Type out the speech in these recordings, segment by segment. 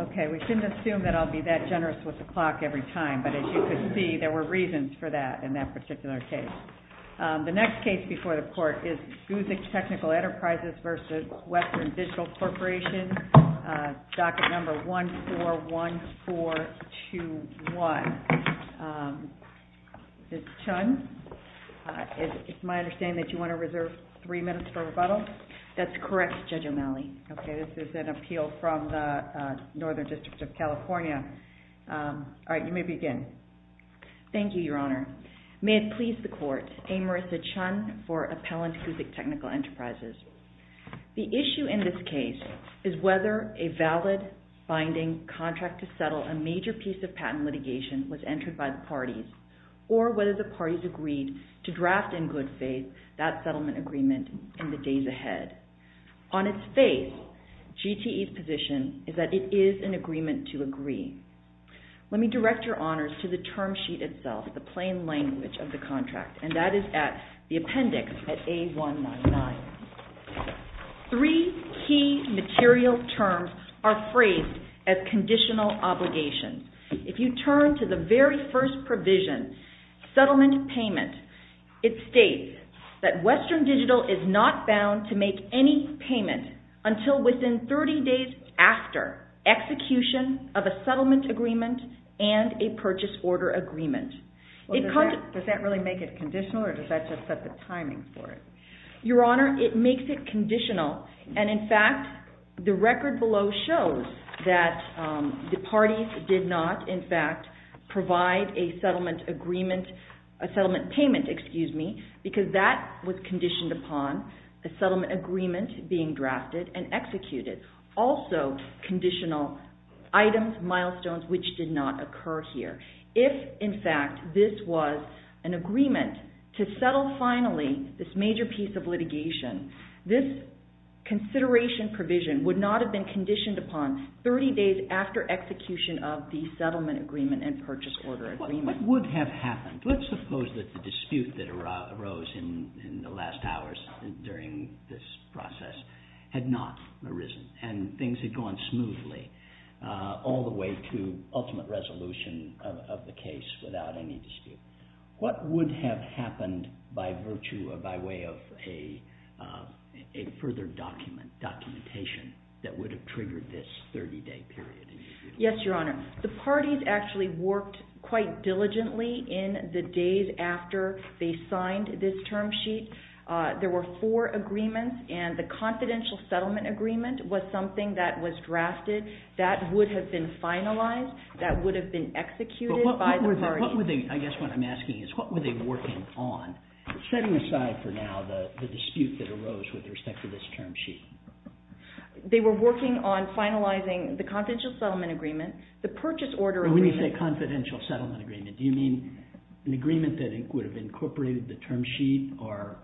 Ok, we shouldn't assume that I'll be that generous with the clock every time, but as you can see, there were reasons for that in that particular case. The next case before the court is Guzik Technical Enterprises v. Western Digital Corporation, Docket number 14194. This is Chun. It's my understanding that you want to reserve three minutes for rebuttal? That's correct, Judge O'Malley. Ok, this is an appeal from the Northern District of California. Alright, you may begin. Thank you, Your Honor. May it please the Court, I'm Marissa Chun for Appellant Guzik Technical Enterprises. The issue in this case is whether a valid binding contract to settle a major piece of patent litigation was entered by the parties, or whether the parties agreed to draft in good faith that settlement agreement in the days ahead. On its face, GTE's position is that it is an agreement to agree. Let me direct Your Honors to the term sheet itself, the plain language of the contract, and that is the appendix at A199. Three key material terms are phrased as conditional obligations. If you turn to the very first provision, settlement payment, it states that Western Digital is not bound to make any payment until within 30 days after execution of a settlement agreement and a purchase order agreement. Does that really make it conditional, or does that just set the timing for it? Your Honor, it makes it conditional, and in fact, the record below shows that the parties did not, in fact, provide a settlement agreement, a settlement payment, excuse me, because that was conditioned upon a settlement agreement being drafted and executed. Also, conditional items, milestones, which did not occur here. If, in fact, this was an agreement to settle finally this major piece of litigation, this consideration provision would not have been conditioned upon 30 days after execution of the settlement agreement and purchase order agreement. What would have happened? Let's suppose that the dispute that arose in the last hours during this process had not arisen, and things had gone smoothly all the way to ultimate resolution of the case without any dispute. What would have happened by virtue or by way of a further documentation that would have triggered this 30 day period? Yes, Your Honor. The parties actually worked quite diligently in the days after they signed this term sheet. There were four agreements, and the confidential settlement agreement was something that was drafted that would have been finalized, that would have been executed by the party. I guess what I'm asking is, what were they working on? Setting aside for now the dispute that arose with respect to this term sheet. They were working on finalizing the confidential settlement agreement, the purchase order agreement. When you say confidential settlement agreement, do you mean an agreement that would have incorporated the term sheet, or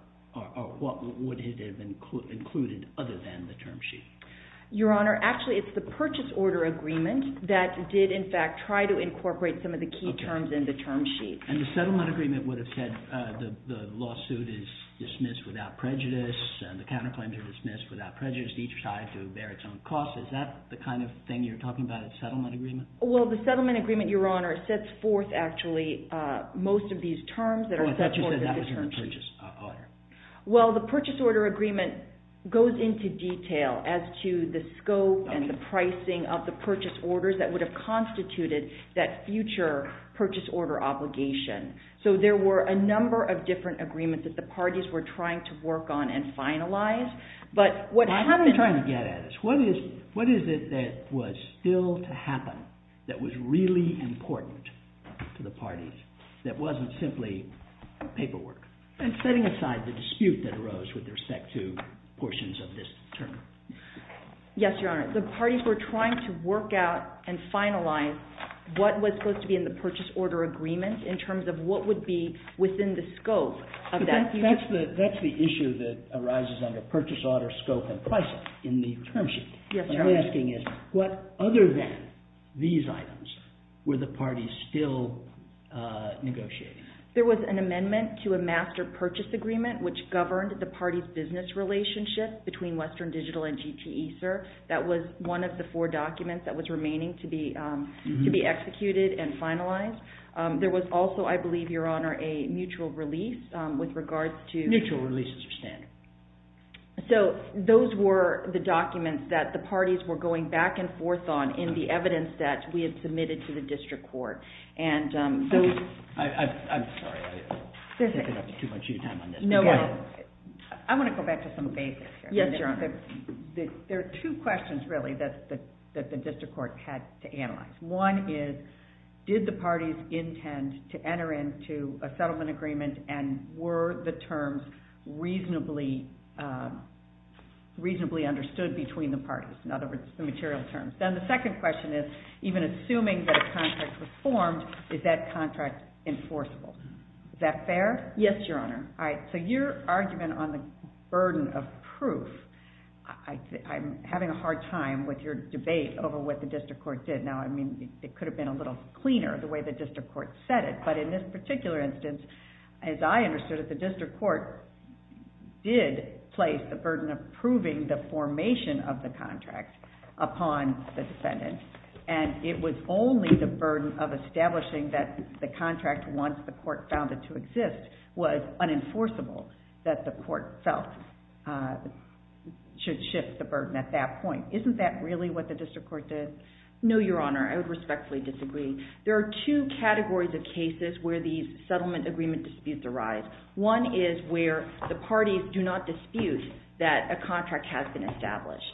what would it have included other than the term sheet? Your Honor, actually, it's the purchase order agreement that did, in fact, try to incorporate some of the key terms in the term sheet. And the settlement agreement would have said the lawsuit is dismissed without prejudice, and the counterclaims are dismissed without prejudice, each tied to bear its own cost. Is that the kind of thing you're talking about in settlement agreement? Well, the settlement agreement, Your Honor, sets forth, actually, most of these terms that are set forth in the term sheet. Oh, I thought you said that was in the purchase order. Well, the purchase order agreement goes into detail as to the scope and the pricing of the purchase orders that would have constituted that future purchase order obligation. So there were a number of different agreements that the parties were trying to work on and finalize, but what happened... Now, how do you try to get at this? What is it that was still to happen that was really important to the parties that wasn't simply paperwork? And setting aside the dispute that arose with respect to portions of this term. Yes, Your Honor, the parties were trying to work out and finalize what was supposed to be in the purchase order agreement in terms of what would be within the scope of that future... But that's the issue that arises under purchase order scope and pricing in the term sheet. Yes, Your Honor. What I'm asking is, what other than these items were the parties still negotiating? There was an amendment to a master purchase agreement which governed the party's business relationship between Western Digital and GTE, sir. That was one of the four documents that was remaining to be executed and finalized. There was also, I believe, Your Honor, a mutual release with regards to... Mutual releases are standard. So those were the documents that the parties were going back and forth on in the evidence that we had submitted to the district court. I'm sorry. I'm taking up too much of your time on this. I want to go back to some basics. Yes, Your Honor. There are two questions really that the district court had to analyze. One is, did the parties intend to enter into a settlement agreement and were the terms reasonably understood between the parties? In other words, the material terms. Then the second question is, even assuming that a contract was formed, is that contract enforceable? Is that fair? Yes, Your Honor. All right. So your argument on the burden of proof, I'm having a hard time with your debate over what the district court did. Now, I mean, it could have been a little cleaner the way the district court said it. But in this particular instance, as I understood it, the contract upon the defendant. And it was only the burden of establishing that the contract, once the court found it to exist, was unenforceable that the court felt should shift the burden at that point. Isn't that really what the district court did? No, Your Honor. I would respectfully disagree. There are two categories of cases where these settlement agreement disputes arise. One is where the parties do not dispute that a contract has been established.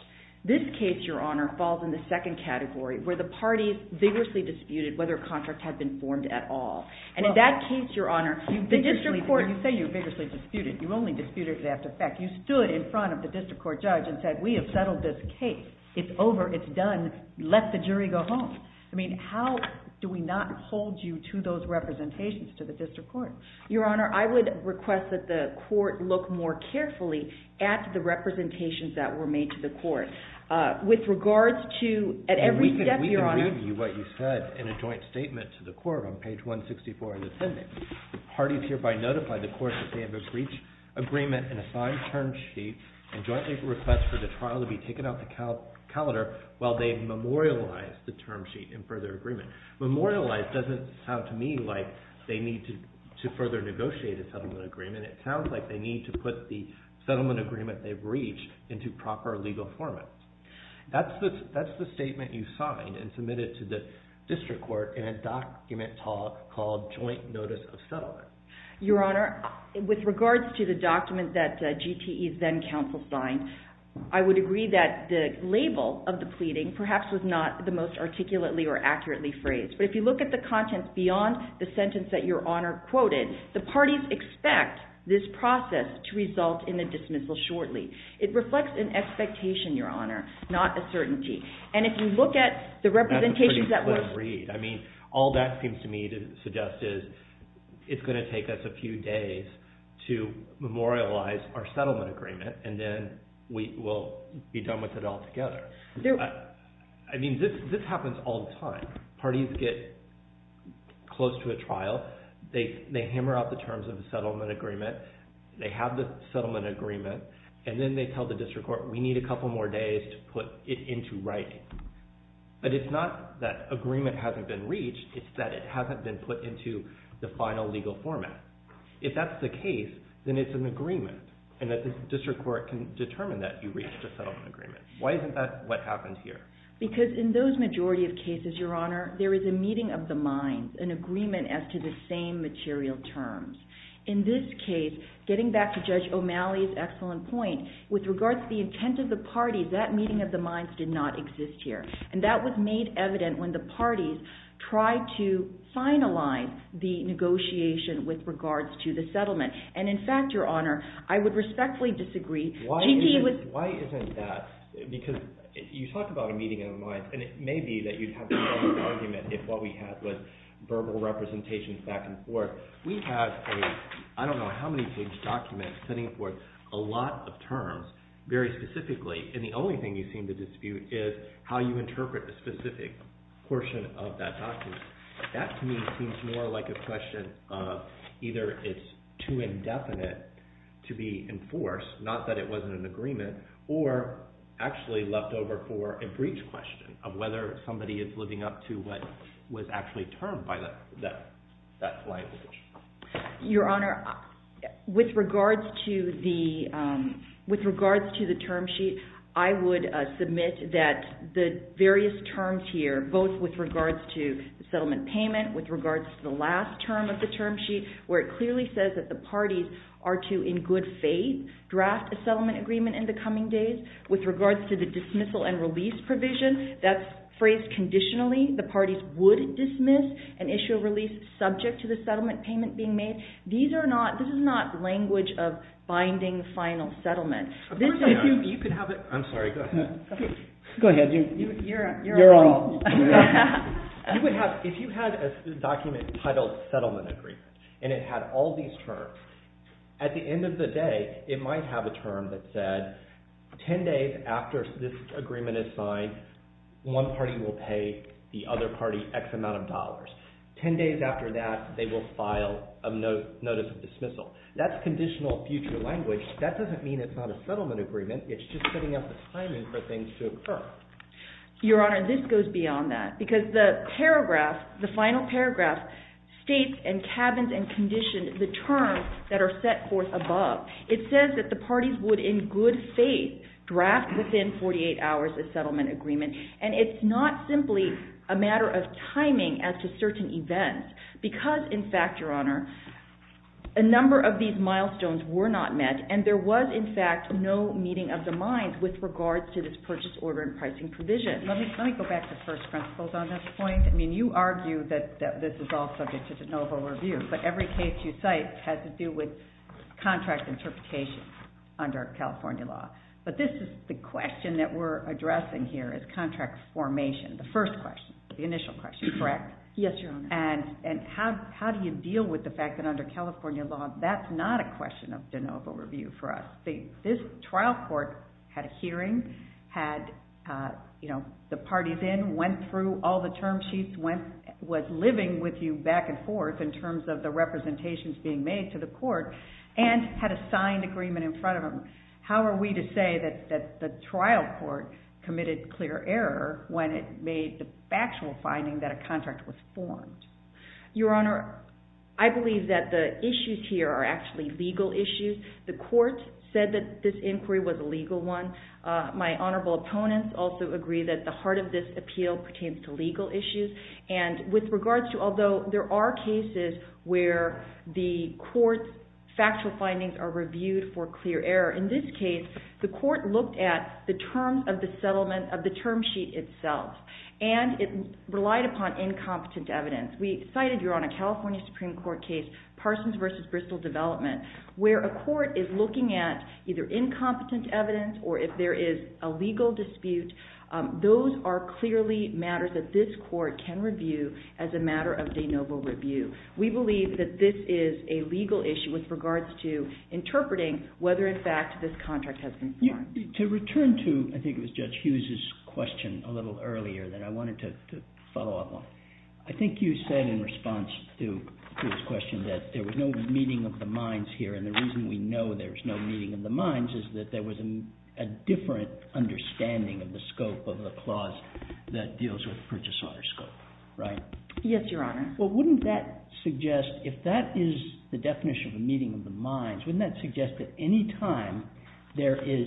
This case, Your Honor, falls in the second category where the parties vigorously disputed whether a contract had been formed at all. And in that case, Your Honor, the district court. You say you vigorously disputed. You only disputed to that effect. You stood in front of the district court judge and said, we have settled this case. It's over. It's done. Let the jury go home. I mean, how do we not hold you to those representations to the district court? Your Honor, I would suggest that the court look more carefully at the representations that were made to the court. With regards to, at every step, Your Honor. We can read you what you said in a joint statement to the court on page 164 in the sentence. Parties hereby notify the court that they have a breach agreement and a signed term sheet and jointly request for the trial to be taken out of the calendar while they memorialize the term sheet and further agreement. Memorialize doesn't sound to me like they need to further negotiate a settlement agreement. It sounds like they need to put the settlement agreement they've breached into proper legal format. That's the statement you signed and submitted to the district court in a document called Joint Notice of Settlement. Your Honor, with regards to the document that GTE's then counsel signed, I would agree that the label of the pleading perhaps was not the most articulately or accurately phrased. But if you look at the contents beyond the sentence that Your Honor quoted, the parties expect this process to result in a dismissal shortly. It reflects an expectation, Your Honor, not a certainty. And if you look at the representations That's a pretty clear read. I mean, all that seems to me to suggest is it's going to take us a few days to memorialize our settlement agreement and then we will be done with it all together. I mean, this happens all the time. Parties get close to a settlement agreement, they have the settlement agreement, and then they tell the district court we need a couple more days to put it into writing. But it's not that agreement hasn't been reached, it's that it hasn't been put into the final legal format. If that's the case, then it's an agreement and that the district court can determine that you reached a settlement agreement. Why isn't that what happened here? Because in those majority of cases, Your Honor, there is a meeting of the minds, an agreement as to the same material terms. In this case, getting back to Judge O'Malley's excellent point, with regards to the intent of the parties, that meeting of the minds did not exist here. And that was made evident when the parties tried to finalize the negotiation with regards to the settlement. And in fact, Your Honor, I would respectfully disagree. Why isn't that, because you talked about a meeting of the minds, and it may be that you'd have an argument if what we had was verbal representation back and forth. We have, I don't know how many page documents, sending forth a lot of terms very specifically, and the only thing you seem to dispute is how you interpret a specific portion of that document. That to me seems more like a question of either it's too indefinite to be enforced, not that it wasn't an agreement, or actually left over for a brief question of whether somebody is living up to what was actually termed by that language. Your Honor, with regards to the term sheet, I would submit that the various terms here, both with regards to the settlement payment, with regards to the last term of the term sheet, where it clearly says that the parties are to, in good faith, draft a dismissal and release provision, that's phrased conditionally. The parties would dismiss an issue of release subject to the settlement payment being made. These are not, this is not language of binding final settlement. Of course I do. You could have it, I'm sorry, go ahead. Go ahead, you're on. You would have, if you had a document titled settlement agreement, and it had all these terms, at the end of the day, it might have a term that said, ten days after this agreement is signed, one party will pay the other party X amount of dollars. Ten days after that, they will file a notice of dismissal. That's conditional future language. That doesn't mean it's not a settlement agreement. It's just setting up the timing for things to occur. Your Honor, this goes beyond that, because the paragraph, the final paragraph, states and cabins and conditioned the terms that are set forth above. It says that the parties would, in good faith, draft within 48 hours a settlement agreement. And it's not simply a matter of timing as to certain events. Because, in fact, Your Honor, a number of these milestones were not met, and there was, in fact, no meeting of the minds with regards to this purchase order and pricing provision. Let me go back to first principles on this point. I mean, you argue that this is all subject to de novo review, but every case you cite has to do with contract interpretation under California law. But this is the question that we're addressing here, is contract formation, the first question, the initial question, correct? Yes, Your Honor. And how do you deal with the fact that under California law, that's not a question of de novo review for us. This trial court had a hearing, had, you know, the parties in, went through all the term sheets, went, was living with you back and forth in terms of the representations being made to the court, and had a signed agreement in front of them. How are we to say that the trial court committed clear error when it made the factual finding that a contract was formed? Your Honor, I believe that the issues here are actually legal issues. The court said that this inquiry was a legal one. My honorable opponents also agree that the heart of this appeal pertains to legal issues. And with that, factual findings are reviewed for clear error. In this case, the court looked at the terms of the settlement of the term sheet itself. And it relied upon incompetent evidence. We cited, Your Honor, California Supreme Court case Parsons v. Bristol Development, where a court is looking at either incompetent evidence or if there is a legal dispute. Those are clearly matters that this court can review as a matter of de novo review. We believe that this is a legal issue with regards to interpreting whether, in fact, this contract has been formed. To return to, I think it was Judge Hughes' question a little earlier that I wanted to follow up on, I think you said in response to his question that there was no meeting of the minds here. And the reason we know there's no meeting of the minds is that there was a different understanding of the scope of the clause that deals with Princess Otter's scope, right? Yes, Your Honor. Well, wouldn't that suggest, if that is the definition of a meeting of the minds, wouldn't that suggest that any time there is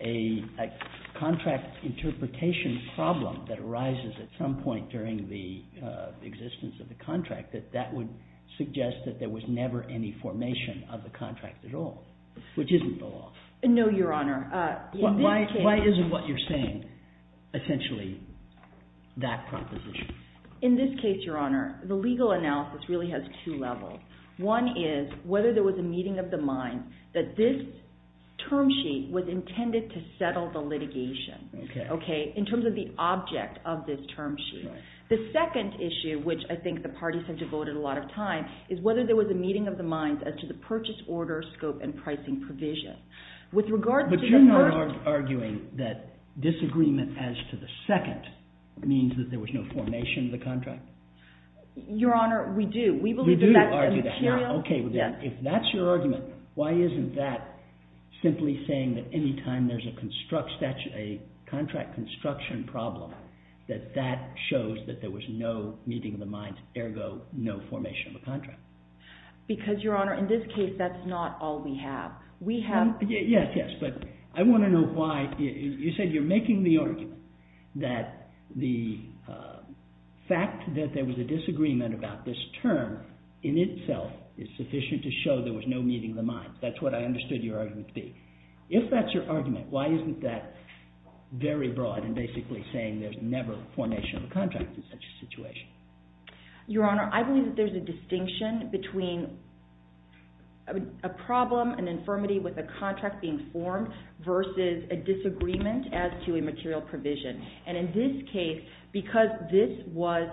a contract interpretation problem that arises at some point during the existence of the contract, that that would suggest that there was never any formation of the contract at all, which isn't the law. No, Your Honor. Why isn't what you're saying essentially that proposition? In this case, Your Honor, the legal analysis really has two levels. One is whether there was a meeting of the minds that this term sheet was intended to settle the litigation, okay? In terms of the object of this term sheet. The second issue, which I think the parties have devoted a lot of time, is whether there was a meeting of the minds as to the purchase order scope and pricing provision. With regard to the first- But you're not arguing that disagreement as to the second means that there was no formation of the contract? Your Honor, we do. We believe that's an imperial- You do argue that. Now, okay. If that's your argument, why isn't that simply saying that any time there's a contract construction problem, that that shows that there was no meeting of the minds, ergo no formation of a contract? Because Your Honor, in this case, that's not all we have. We have- Yes, yes. But I want to know why. You said you're making the argument that the fact that there was a disagreement about this term in itself is sufficient to show there was no meeting of the minds. That's what I understood your argument to be. If that's your argument, why isn't that very broad and basically saying there's never formation of a contract in such a situation? Your Honor, I believe that there's a distinction between a problem, an agreement as to a material provision, and in this case, because this was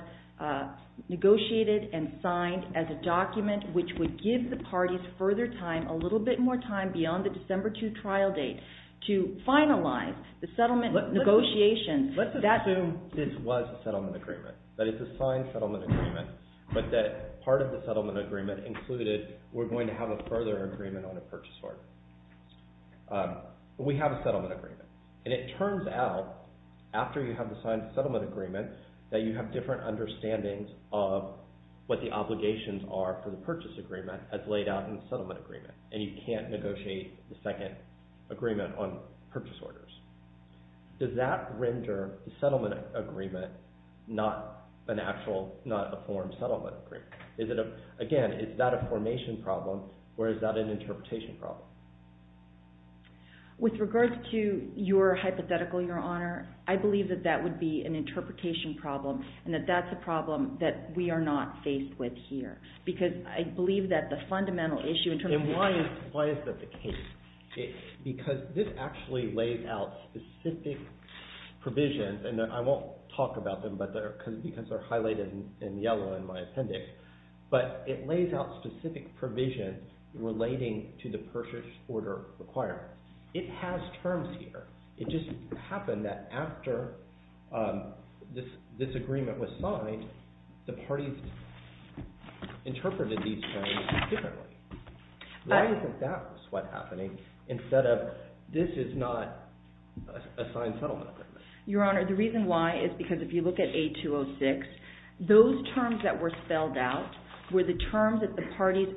negotiated and signed as a document which would give the parties further time, a little bit more time beyond the December 2 trial date, to finalize the settlement negotiations- Let's assume this was a settlement agreement, that it's a signed settlement agreement, but that part of the settlement agreement included we're going to have a further agreement on a purchase order. We have a settlement agreement, and it turns out, after you have the signed settlement agreement, that you have different understandings of what the obligations are for the purchase agreement as laid out in the settlement agreement, and you can't negotiate the second agreement on purchase orders. Does that render the settlement agreement not an actual, not a formed settlement agreement? Is it a- With regards to your hypothetical, Your Honor, I believe that that would be an interpretation problem, and that that's a problem that we are not faced with here, because I believe that the fundamental issue in terms of- And why is that the case? Because this actually lays out specific provisions, and I won't talk about them because they're highlighted in yellow in my appendix, but it lays out specific provisions relating to the purchase order requirement. It has terms here. It just happened that after this agreement was signed, the parties interpreted these terms differently. Why is it that's what's happening, instead of this is not a signed settlement agreement? Your Honor, the reason why is because if you look at A-206, those terms that were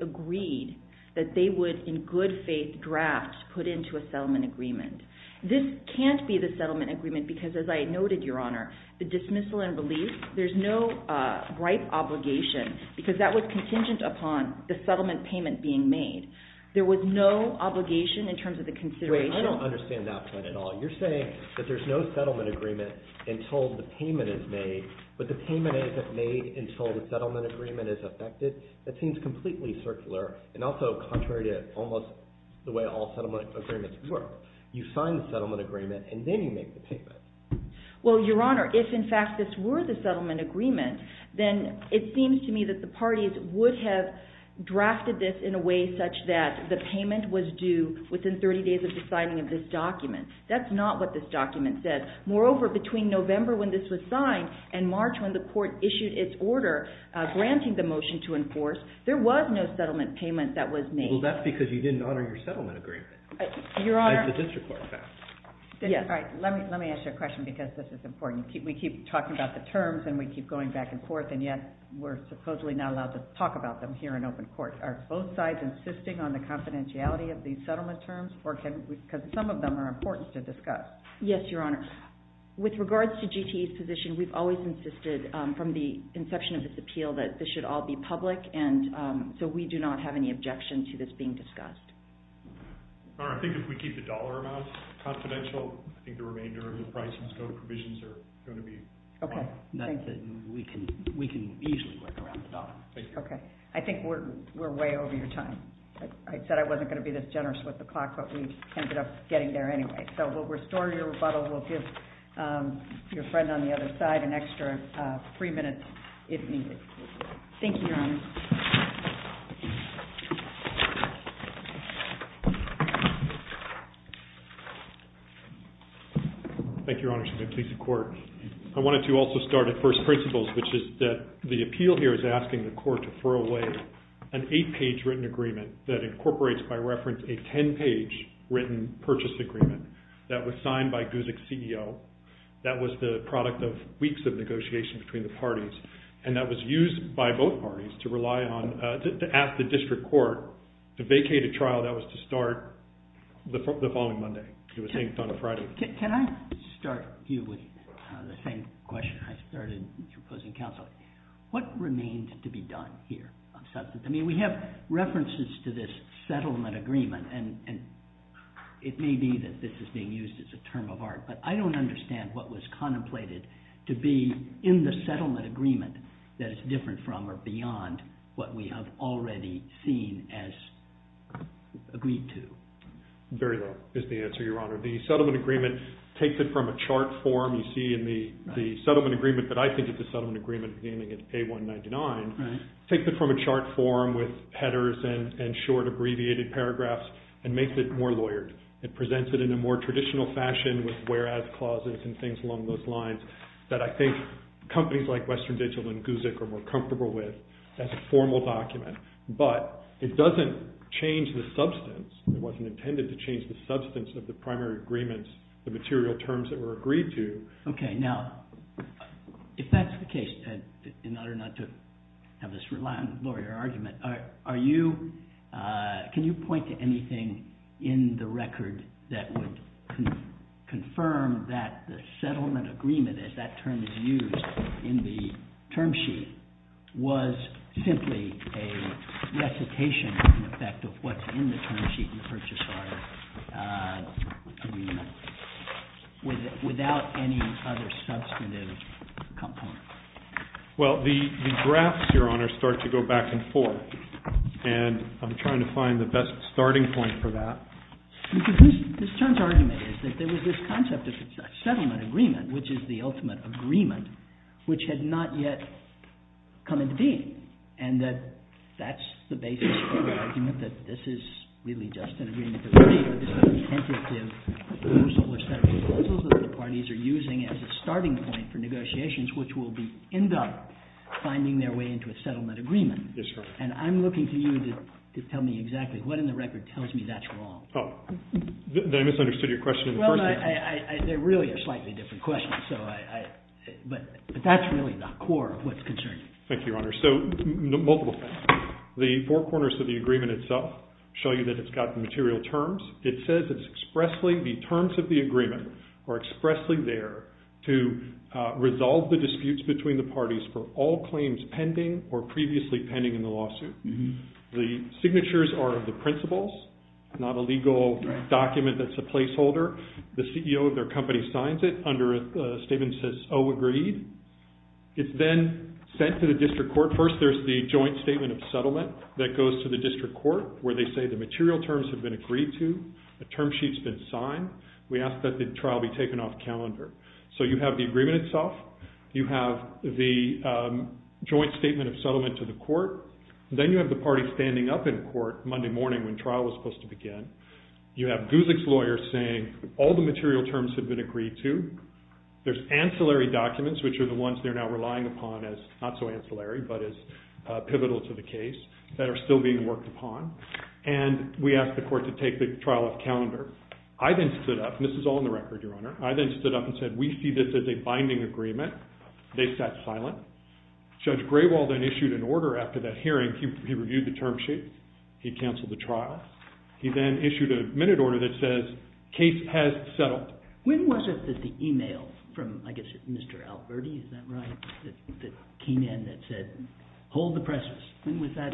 agreed, that they would, in good faith draft, put into a settlement agreement. This can't be the settlement agreement, because as I noted, Your Honor, the dismissal and release, there's no right obligation, because that was contingent upon the settlement payment being made. There was no obligation in terms of the consideration- Wait, I don't understand that part at all. You're saying that there's no settlement agreement until the payment is made, but the payment isn't made until the settlement agreement is effected? That seems completely circular, and also contrary to almost the way all settlement agreements work. You sign the settlement agreement, and then you make the payment. Well, Your Honor, if in fact this were the settlement agreement, then it seems to me that the parties would have drafted this in a way such that the payment was due within 30 days of the signing of this document. That's not what this document said. Moreover, between November when this was signed and March when the court issued its order granting the motion to enforce, there was no settlement payment that was made. Well, that's because you didn't honor your settlement agreement, as the district court found. Yes. All right. Let me ask you a question, because this is important. We keep talking about the terms, and we keep going back and forth, and yet we're supposedly not allowed to talk about them here in open court. Are both sides insisting on the confidentiality of these settlement terms, or can we... Because some of them are important to discuss. Yes, Your Honor. With regards to GTE's position, we've always insisted, from the inception of this appeal, that this should all be public, and so we do not have any objection to this being discussed. Your Honor, I think if we keep the dollar amounts confidential, I think the remainder of the price and scope provisions are going to be fine. Okay. Thank you. Not that we can easily work around the dollar. Thank you. Okay. I think we're way over your time. I said I wasn't going to be this generous with the clock, but we ended up getting there anyway. So we'll restore your rebuttal. We'll give your friend on the other side an extra three minutes, if needed. Thank you, Your Honor. Thank you, Your Honor. Should we please the court? I wanted to also start at first principles, which is that the appeal here is asking the court to throw away an eight-page written agreement that incorporates, by reference, a ten-page written purchase agreement. That was signed by Guzik's CEO. That was the product of weeks of negotiation between the parties, and that was used by both parties to rely on, to ask the district court to vacate a trial that was to start the following Monday. It was inked on a Friday. Can I start you with the same question I started when you were posing counsel? What remained to be done here on substance? I mean, we have references to this settlement agreement, and it may be that this is being used as a term of art, but I don't understand what was contemplated to be in the settlement agreement that is different from or beyond what we have already seen as agreed to. Very well is the answer, Your Honor. The settlement agreement takes it from a chart form. You see in the settlement agreement that I think it's a settlement agreement, beginning in A199, takes it from a chart form with headers and short abbreviated paragraphs and makes it more lawyered. It presents it in a more traditional fashion with whereas clauses and things along those lines that I think companies like Western Digital and GUZIK are more comfortable with as a formal document, but it doesn't change the substance. It wasn't intended to change the substance of the primary agreements, the material terms that were agreed to. Okay. Now, if that's the case, in order not to have this rely on lawyer argument, can you point to anything in the record that would confirm that the settlement agreement, as that term is used in the term sheet, was simply a recitation, in effect, of what's in the term sheet in the purchase order agreement without any other substantive component? Well, the drafts, Your Honor, start to go back and forth, and I'm trying to find the best starting point for that. This term's argument is that there was this concept of a settlement agreement, which is the ultimate agreement, which had not yet come into being, and that that's the basis for the argument that this is really just an agreement of the parties, but it's not the tentative proposal or set of proposals that the parties are using as a starting point for negotiations, which will end up finding their way into a settlement agreement. Yes, sir. And I'm looking to you to tell me exactly what in the record tells me that's wrong. Oh. I misunderstood your question in the first place. Well, they're really a slightly different question, but that's really the core of what's concerning. Thank you, Your Honor. So, multiple points. The four corners of the agreement itself show you that it's got the material terms. It says it's expressly, the terms of the agreement are expressly there to resolve the disputes between the parties for all claims pending or previously pending in the lawsuit. The signatures are of the principals, not a legal document that's a placeholder. The CEO of their company signs it under a statement that says, oh, agreed. It's then sent to the district court. First, there's the joint statement of settlement that goes to the district court where they say the material terms have been agreed to, the term sheet's been signed. We ask that the trial be taken off calendar. So you have the agreement itself. You have the joint statement of settlement to the court, then you have the party standing up in court Monday morning when trial was supposed to begin. You have Guzik's lawyer saying all the material terms have been agreed to. There's ancillary documents which are the ones they're now relying upon as not so ancillary but as pivotal to the case that are still being worked upon. And we ask the court to take the trial off calendar. I then stood up and said, we see this as a binding agreement. They sat silent. Judge Graywall then issued an order after that hearing. He reviewed the term sheet. He canceled the trial. He then issued a minute order that says, case has settled. When was it that the email from, I guess, Mr. Alberti, is that right? The key man that said, hold the presses. When was that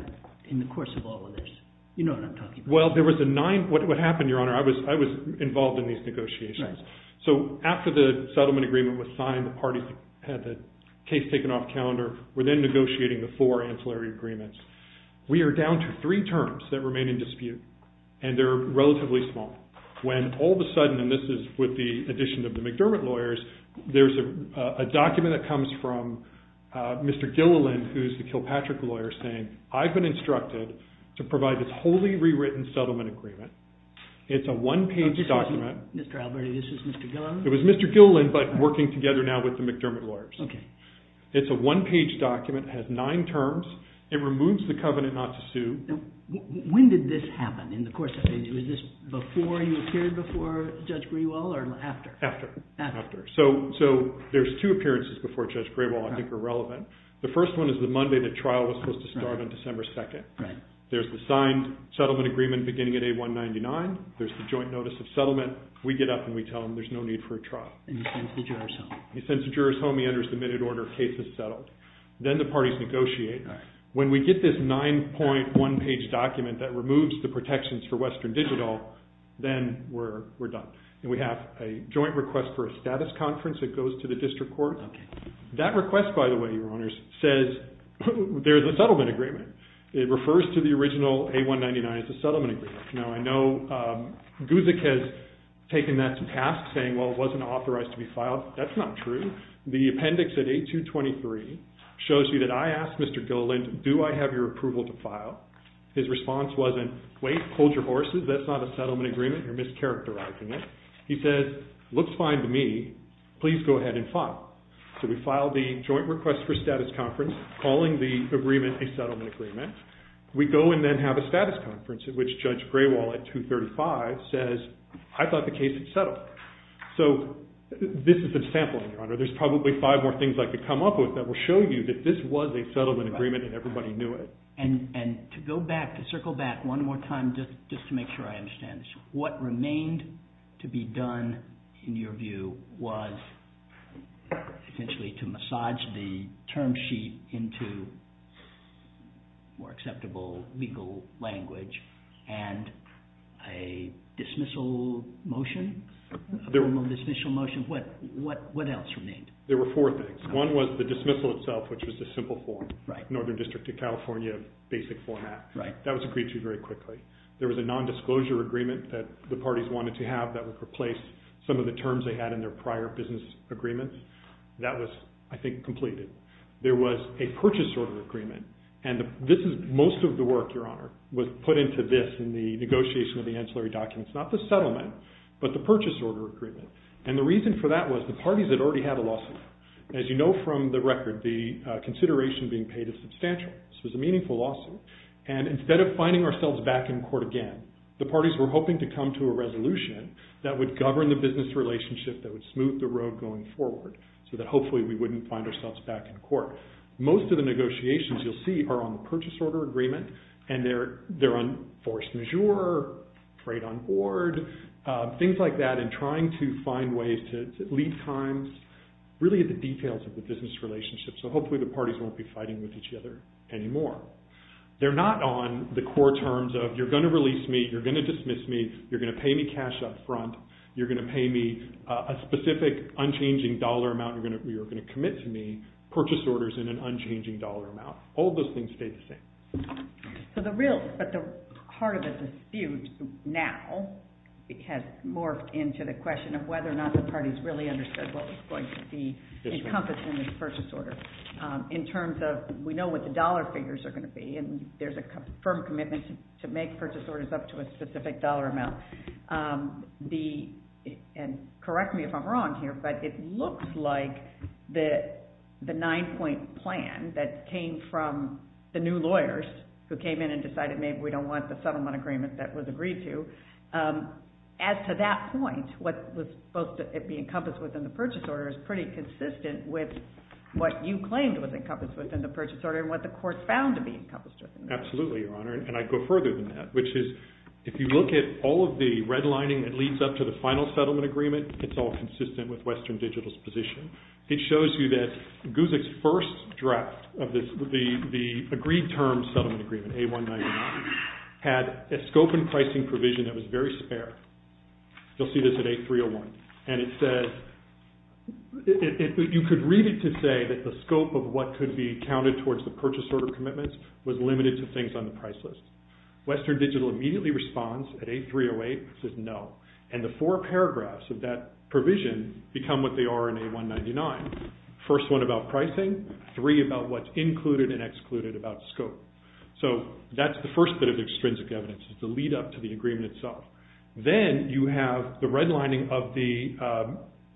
in the course of all of this? You know what I'm talking about. Well, there was a nine. What happened, Your Honor? I was involved in these negotiations. So after the settlement agreement was signed, the parties had the case taken off calendar. We're then negotiating the four ancillary agreements. We are down to three terms that remain in dispute, and they're relatively small. When all of a sudden, and this is with the addition of the McDermott lawyers, there's a document that comes from Mr. Gilliland who's the Kilpatrick lawyer saying, I've been instructed to provide this wholly rewritten settlement agreement. It's a one-page document. Mr. Alberti, this is Mr. Gilliland? It was Mr. Gilliland, but working together now with the McDermott lawyers. Okay. It's a one-page document. It has nine terms. It removes the covenant not to sue. When did this happen in the course of it? Was this before you appeared before Judge Grewal or after? After. After. So there's two appearances before Judge Grewal I think are relevant. The first one is the Monday the trial was supposed to start on December 2nd. Right. There's the signed settlement agreement beginning at A199. There's the joint notice of settlement. We get up and we tell them there's no need for a trial. And he sends the jurors home. He sends the jurors home. He enters the minute order, case is settled. Then the parties negotiate. Right. When we get this 9.1 page document that removes the protections for Western Digital, then we're done. And we have a joint request for a status conference that goes to the district court. Okay. That request, by the way, Your Honors, says there's a settlement agreement. It refers to the original A199 as a settlement agreement. Now, I know Guzik has taken that to task saying, well, it wasn't authorized to be filed. That's not true. The appendix at A223 shows you that I asked Mr. Gilliland, do I have your approval to file? His response wasn't, wait, hold your horses. That's not a settlement agreement. You're mischaracterizing it. He says, looks fine to me. Please go ahead and file. So we filed the joint request for status conference, calling the agreement a settlement agreement. We go and then have a status conference in which Judge Graywall at 235 says, I thought the case had settled. So this is a sample, Your Honor. There's probably five more things I could come up with that will show you that this was a settlement agreement and everybody knew it. And to go back, to circle back one more time just to make sure I understand this. What remained to be done, in your view, was essentially to massage the term sheet into more acceptable legal language and a dismissal motion, a formal dismissal motion. What else remained? There were four things. One was the dismissal itself, which was the simple form. Northern District of California, basic format. That was agreed to very quickly. There was a nondisclosure agreement that the parties wanted to have that would replace some of the terms they had in their prior business agreements. That was, I think, completed. There was a purchase order agreement and this is most of the work, Your Honor, was put into this in the negotiation of the ancillary documents. Not the settlement, but the purchase order agreement. And the reason for that was the parties had already had a lawsuit. As you know from the record, the consideration being paid is substantial. This was a meaningful lawsuit. And instead of finding ourselves back in court again, the parties were hoping to come to a resolution that would govern the business relationship, that would smooth the road going forward, so that hopefully we wouldn't find ourselves back in court. Most of the negotiations you'll see are on the purchase order agreement. And they're on force majeure, trade on board, things like that, and trying to find ways to leave times, really the details of the business relationship, so hopefully the parties won't be fighting with each other anymore. They're not on the core terms of, you're gonna release me, you're gonna dismiss me, you're gonna pay me cash up front, you're gonna pay me a specific unchanging dollar amount, you're gonna commit to me purchase orders in an unchanging dollar amount. All those things stay the same. So the real, but the heart of it is skewed now, it has morphed into the question of whether or not the parties really understood what was going to be encompassed in this purchase order. In terms of, we know what the dollar figures are gonna be, and there's a firm commitment to make purchase orders up to a specific dollar amount. The, and correct me if I'm wrong here, but it looks like the nine point plan that came from the new lawyers who came in and decided maybe we don't want the settlement agreement that was agreed to, as to that point, what was supposed to be encompassed within the purchase order is pretty consistent with what you claimed was encompassed within the purchase order and what the court found to be encompassed within the purchase order. Absolutely, Your Honor, and I'd go further than that, which is, if you look at all of the red lining that leads up to the final settlement agreement, it's all consistent with Western Digital's position. It shows you that Guzik's first draft of this, the, the agreed term settlement agreement, A199, had a scope and pricing provision that was very spare. You'll see this at A301, and it says, it, it, you could read it to say that the scope of what could be counted towards the purchase order commitments was limited to things on the price list. Western Digital immediately responds at A308, says no. And the four paragraphs of that provision become what they are in A199. First one about pricing, three about what's included and excluded about scope. So, that's the first bit of extrinsic evidence, the lead up to the agreement itself. Then, you have the red lining of the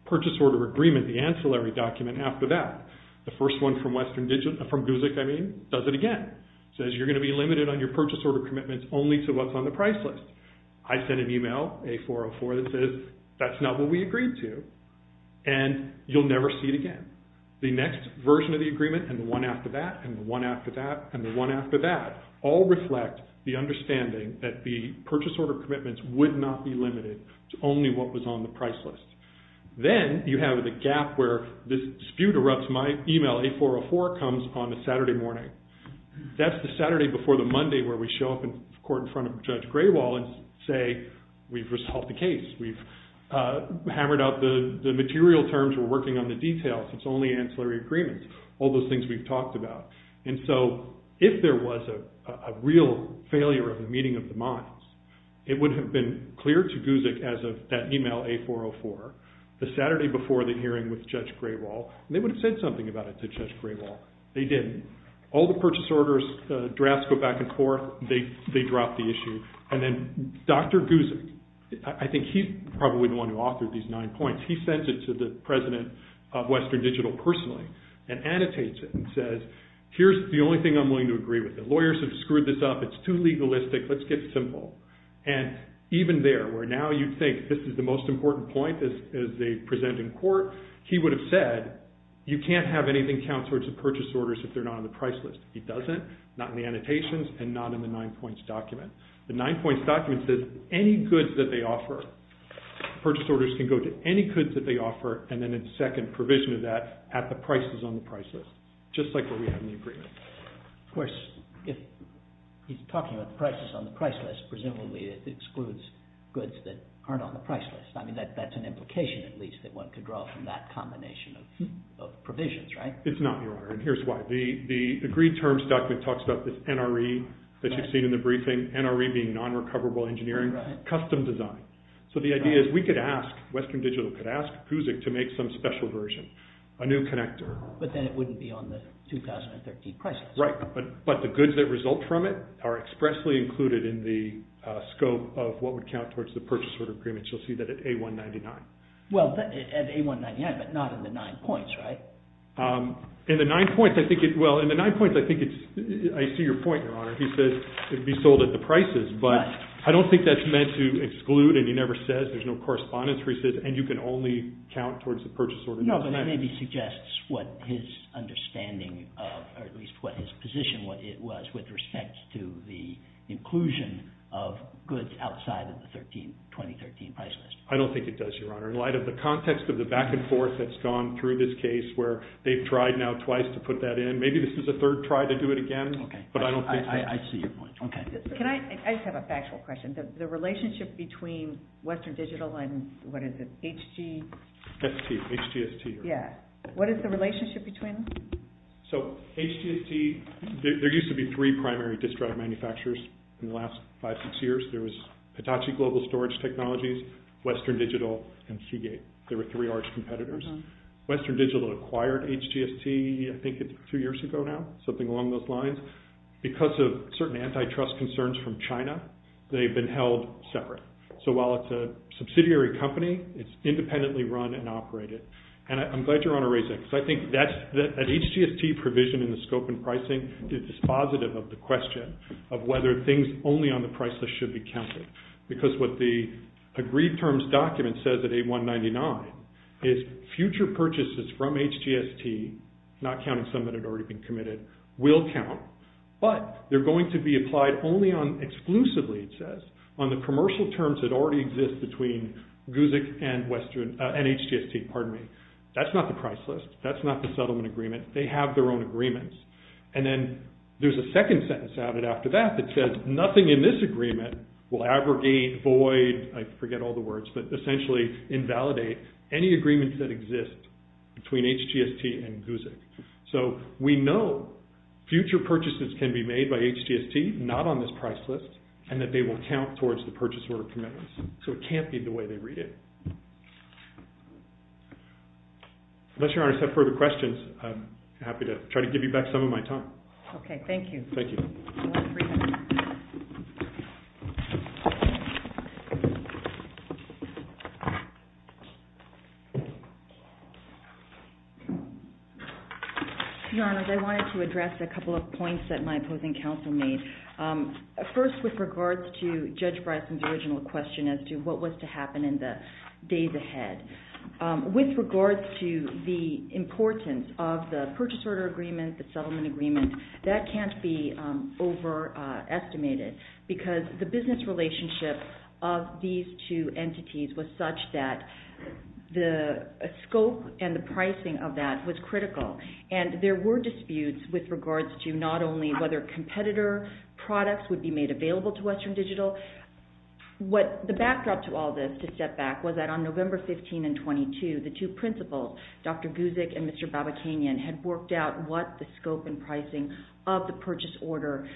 purchase order agreement, the ancillary document after that. The first one from Western Digital, from Guzik, I mean, does it again. Says you're going to be limited on your purchase order commitments only to what's on the price list. I sent an email, A404, that says, that's not what we agreed to. And you'll never see it again. The next version of the agreement, and the one after that, and the one after that, and the one after that, all reflect the understanding that the purchase order commitments would not be limited to only what was on the price list. Then, you have the gap where this dispute erupts. My email, A404, comes on a Saturday morning. That's the Saturday before the Monday where we show up in court in front of Judge Graywall and say, we've resolved the case. We've hammered out the material terms. We're working on the details. It's only ancillary agreements. All those things we've talked about. And so, if there was a real failure of the meeting of the minds, it would have been clear to Guzik as of that email, A404, the Saturday before the hearing with Judge Graywall. They would have said something about it to Judge Graywall. They didn't. All the purchase orders, the drafts go back and forth. They drop the issue. And then, Dr. Guzik, I think he's probably the one who authored these nine points. He sends it to the president of Western Digital personally and annotates it and says, here's the only thing I'm willing to agree with. The lawyers have screwed this up. It's too legalistic. Let's get simple. And even there, where now you'd think this is the most important point as they You can't have anything count towards the purchase orders if they're not on the price list. He doesn't. Not in the annotations and not in the nine points document. The nine points document says any goods that they offer, purchase orders can go to any goods that they offer, and then a second provision of that at the prices on the price list. Just like what we have in the agreement. Of course, if he's talking about the prices on the price list, presumably it excludes goods that aren't on the price list. I mean, that's an implication, at least, that one could draw from that combination of provisions, right? It's not, Your Honor, and here's why. The agreed terms document talks about this NRE that you've seen in the briefing, NRE being non-recoverable engineering, custom design. So the idea is we could ask, Western Digital could ask PUSIC to make some special version, a new connector. But then it wouldn't be on the 2013 prices. Right, but the goods that result from it are expressly included in the scope of what would count towards the purchase order agreements. You'll see that at A199. Well, at A199, but not in the nine points, right? In the nine points, I think it's, well, in the nine points, I think it's, I see your point, Your Honor. He says it would be sold at the prices, but I don't think that's meant to exclude, and he never says. There's no correspondence where he says, and you can only count towards the purchase order. No, but it maybe suggests what his understanding of, or at least what his position, what it was with respect to the inclusion of goods outside of the 2013 price list. I don't think it does, Your Honor. In light of the context of the back and forth that's gone through this case, where they've tried now twice to put that in, maybe this is a third try to do it again, but I don't think so. I see your point, okay. Can I, I just have a factual question. The relationship between Western Digital and, what is it, HG? ST, HGST. Yeah, what is the relationship between them? So, HGST, there used to be three primary disk drive manufacturers in the last five, six years. There was Hitachi Global Storage Technologies, Western Digital, and Seagate. They were three arch competitors. Western Digital acquired HGST, I think, two years ago now, something along those lines. Because of certain antitrust concerns from China, they've been held separate. So, while it's a subsidiary company, it's independently run and operated. And I'm glad Your Honor raised that, because I think that's, that HGST provision in the scope and pricing is dispositive of the question of whether things only on the price list should be counted. Because what the agreed terms document says at 8199 is future purchases from HGST, not counting some that had already been committed, will count. But they're going to be applied only on, exclusively it says, on the commercial terms that already exist between Guzik and HGST, pardon me. That's not the price list. That's not the settlement agreement. They have their own agreements. And then there's a second sentence added after that that says, nothing in this agreement will aggregate, void, I forget all the words, but essentially invalidate any agreements that exist between HGST and Guzik. So, we know future purchases can be made by HGST, not on this price list, and that they will count towards the purchase order commitments. So, it can't be the way they read it. Unless Your Honor has further questions, I'm happy to try to give you back some of my time. OK. Thank you. Thank you. I want to bring it back. Your Honor, I wanted to address a couple of points that my opposing counsel made. First, with regards to Judge Bryson's original question as to what was to happen in the days ahead. With regards to the importance of the purchase order agreement and the settlement agreement, that can't be overestimated because the business relationship of these two entities was such that the scope and the pricing of that was critical. And there were disputes with regards to not only whether competitor products would be made available to Western Digital. The backdrop to all this, to step back, was that on November 15 and 22, the two principals, Dr. Guzik and Mr. Babakanian, had worked out what the scope and pricing of the purchase order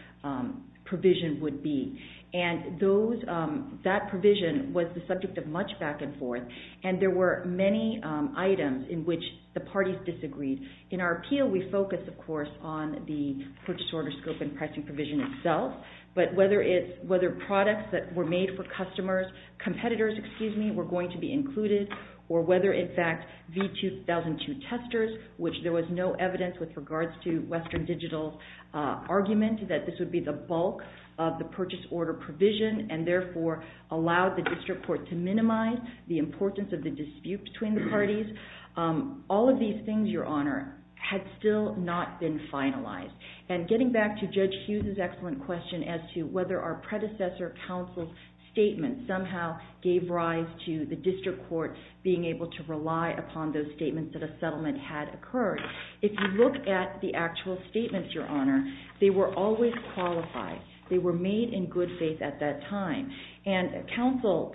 provision would be. And that provision was the subject of much back and forth. And there were many items in which the parties disagreed. In our appeal, we focus, of course, on the purchase order scope and pricing provision itself. But whether products that were made for customers, competitors, excuse me, were going to be included, or whether, in fact, V2002 testers, which there was no evidence with regards to Western Digital's argument that this would be the bulk of the purchase order provision and therefore allowed the district court to minimize the importance of the dispute between the parties, all of these things, Your Honor, had still not been finalized. And getting back to Judge Hughes's excellent question as to whether our predecessor counsel's statement somehow gave rise to the district court being able to rely upon those statements that a settlement had occurred, if you look at the actual statements, Your Honor, they were always qualified. They were made in good faith at that time. And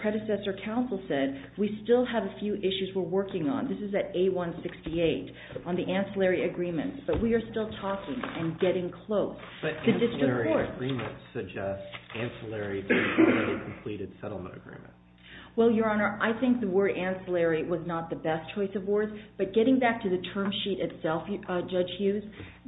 predecessor counsel said, we still have a few issues we're working on. This is at A168 on the ancillary agreements. But we are still talking and getting close to district court. Why do our agreements suggest ancillary to the already completed settlement agreement? Well, Your Honor, I think the word ancillary was not the best choice of words. But getting back to the term sheet itself, Judge Hughes,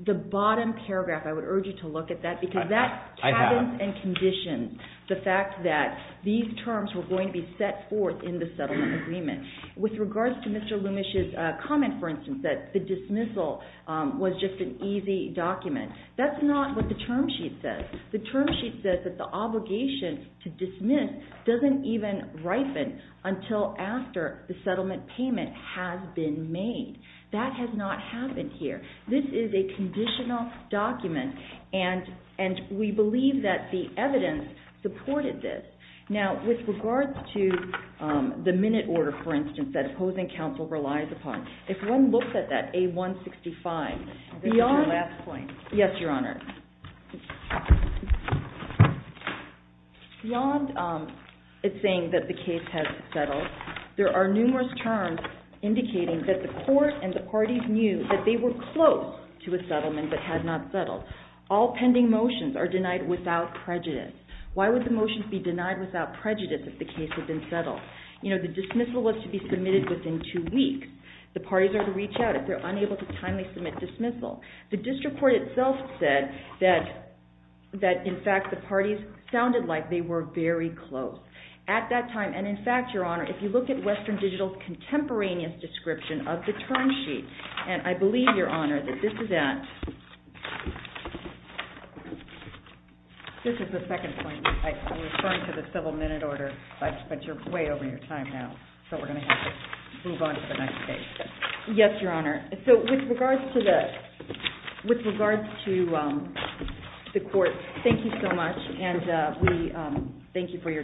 the bottom paragraph, I would urge you to look at that, because that I have. And conditions the fact that these terms were going to be set forth in the settlement agreement. With regards to Mr. Lumish's comment, for instance, that the dismissal was just an easy document, that's not what the term sheet says. The term sheet says that the obligation to dismiss doesn't even ripen until after the settlement payment has been made. That has not happened here. This is a conditional document. And we believe that the evidence supported this. Now, with regards to the minute order, for instance, that opposing counsel relies upon, if one looks at that A165, beyond. Yes, Your Honor. Beyond it saying that the case has settled, there are numerous terms indicating that the court and the parties knew that they were close to a settlement but had not settled. All pending motions are denied without prejudice. Why would the motions be denied without prejudice if the case had been settled? You know, the dismissal was to be submitted within two weeks. The parties are to reach out if they're unable to timely submit dismissal. The district court itself said that, in fact, the parties sounded like they were very close at that time. And in fact, Your Honor, if you look at Western Digital's contemporaneous description of the term sheet, and I believe, Your Honor, that this is at, this is the second point. I'm referring to the civil minute order, but you're way over your time now. So we're going to have to move on to the next page. Yes, Your Honor. So with regards to the, with regards to the court, thank you so much, and we thank you for your time.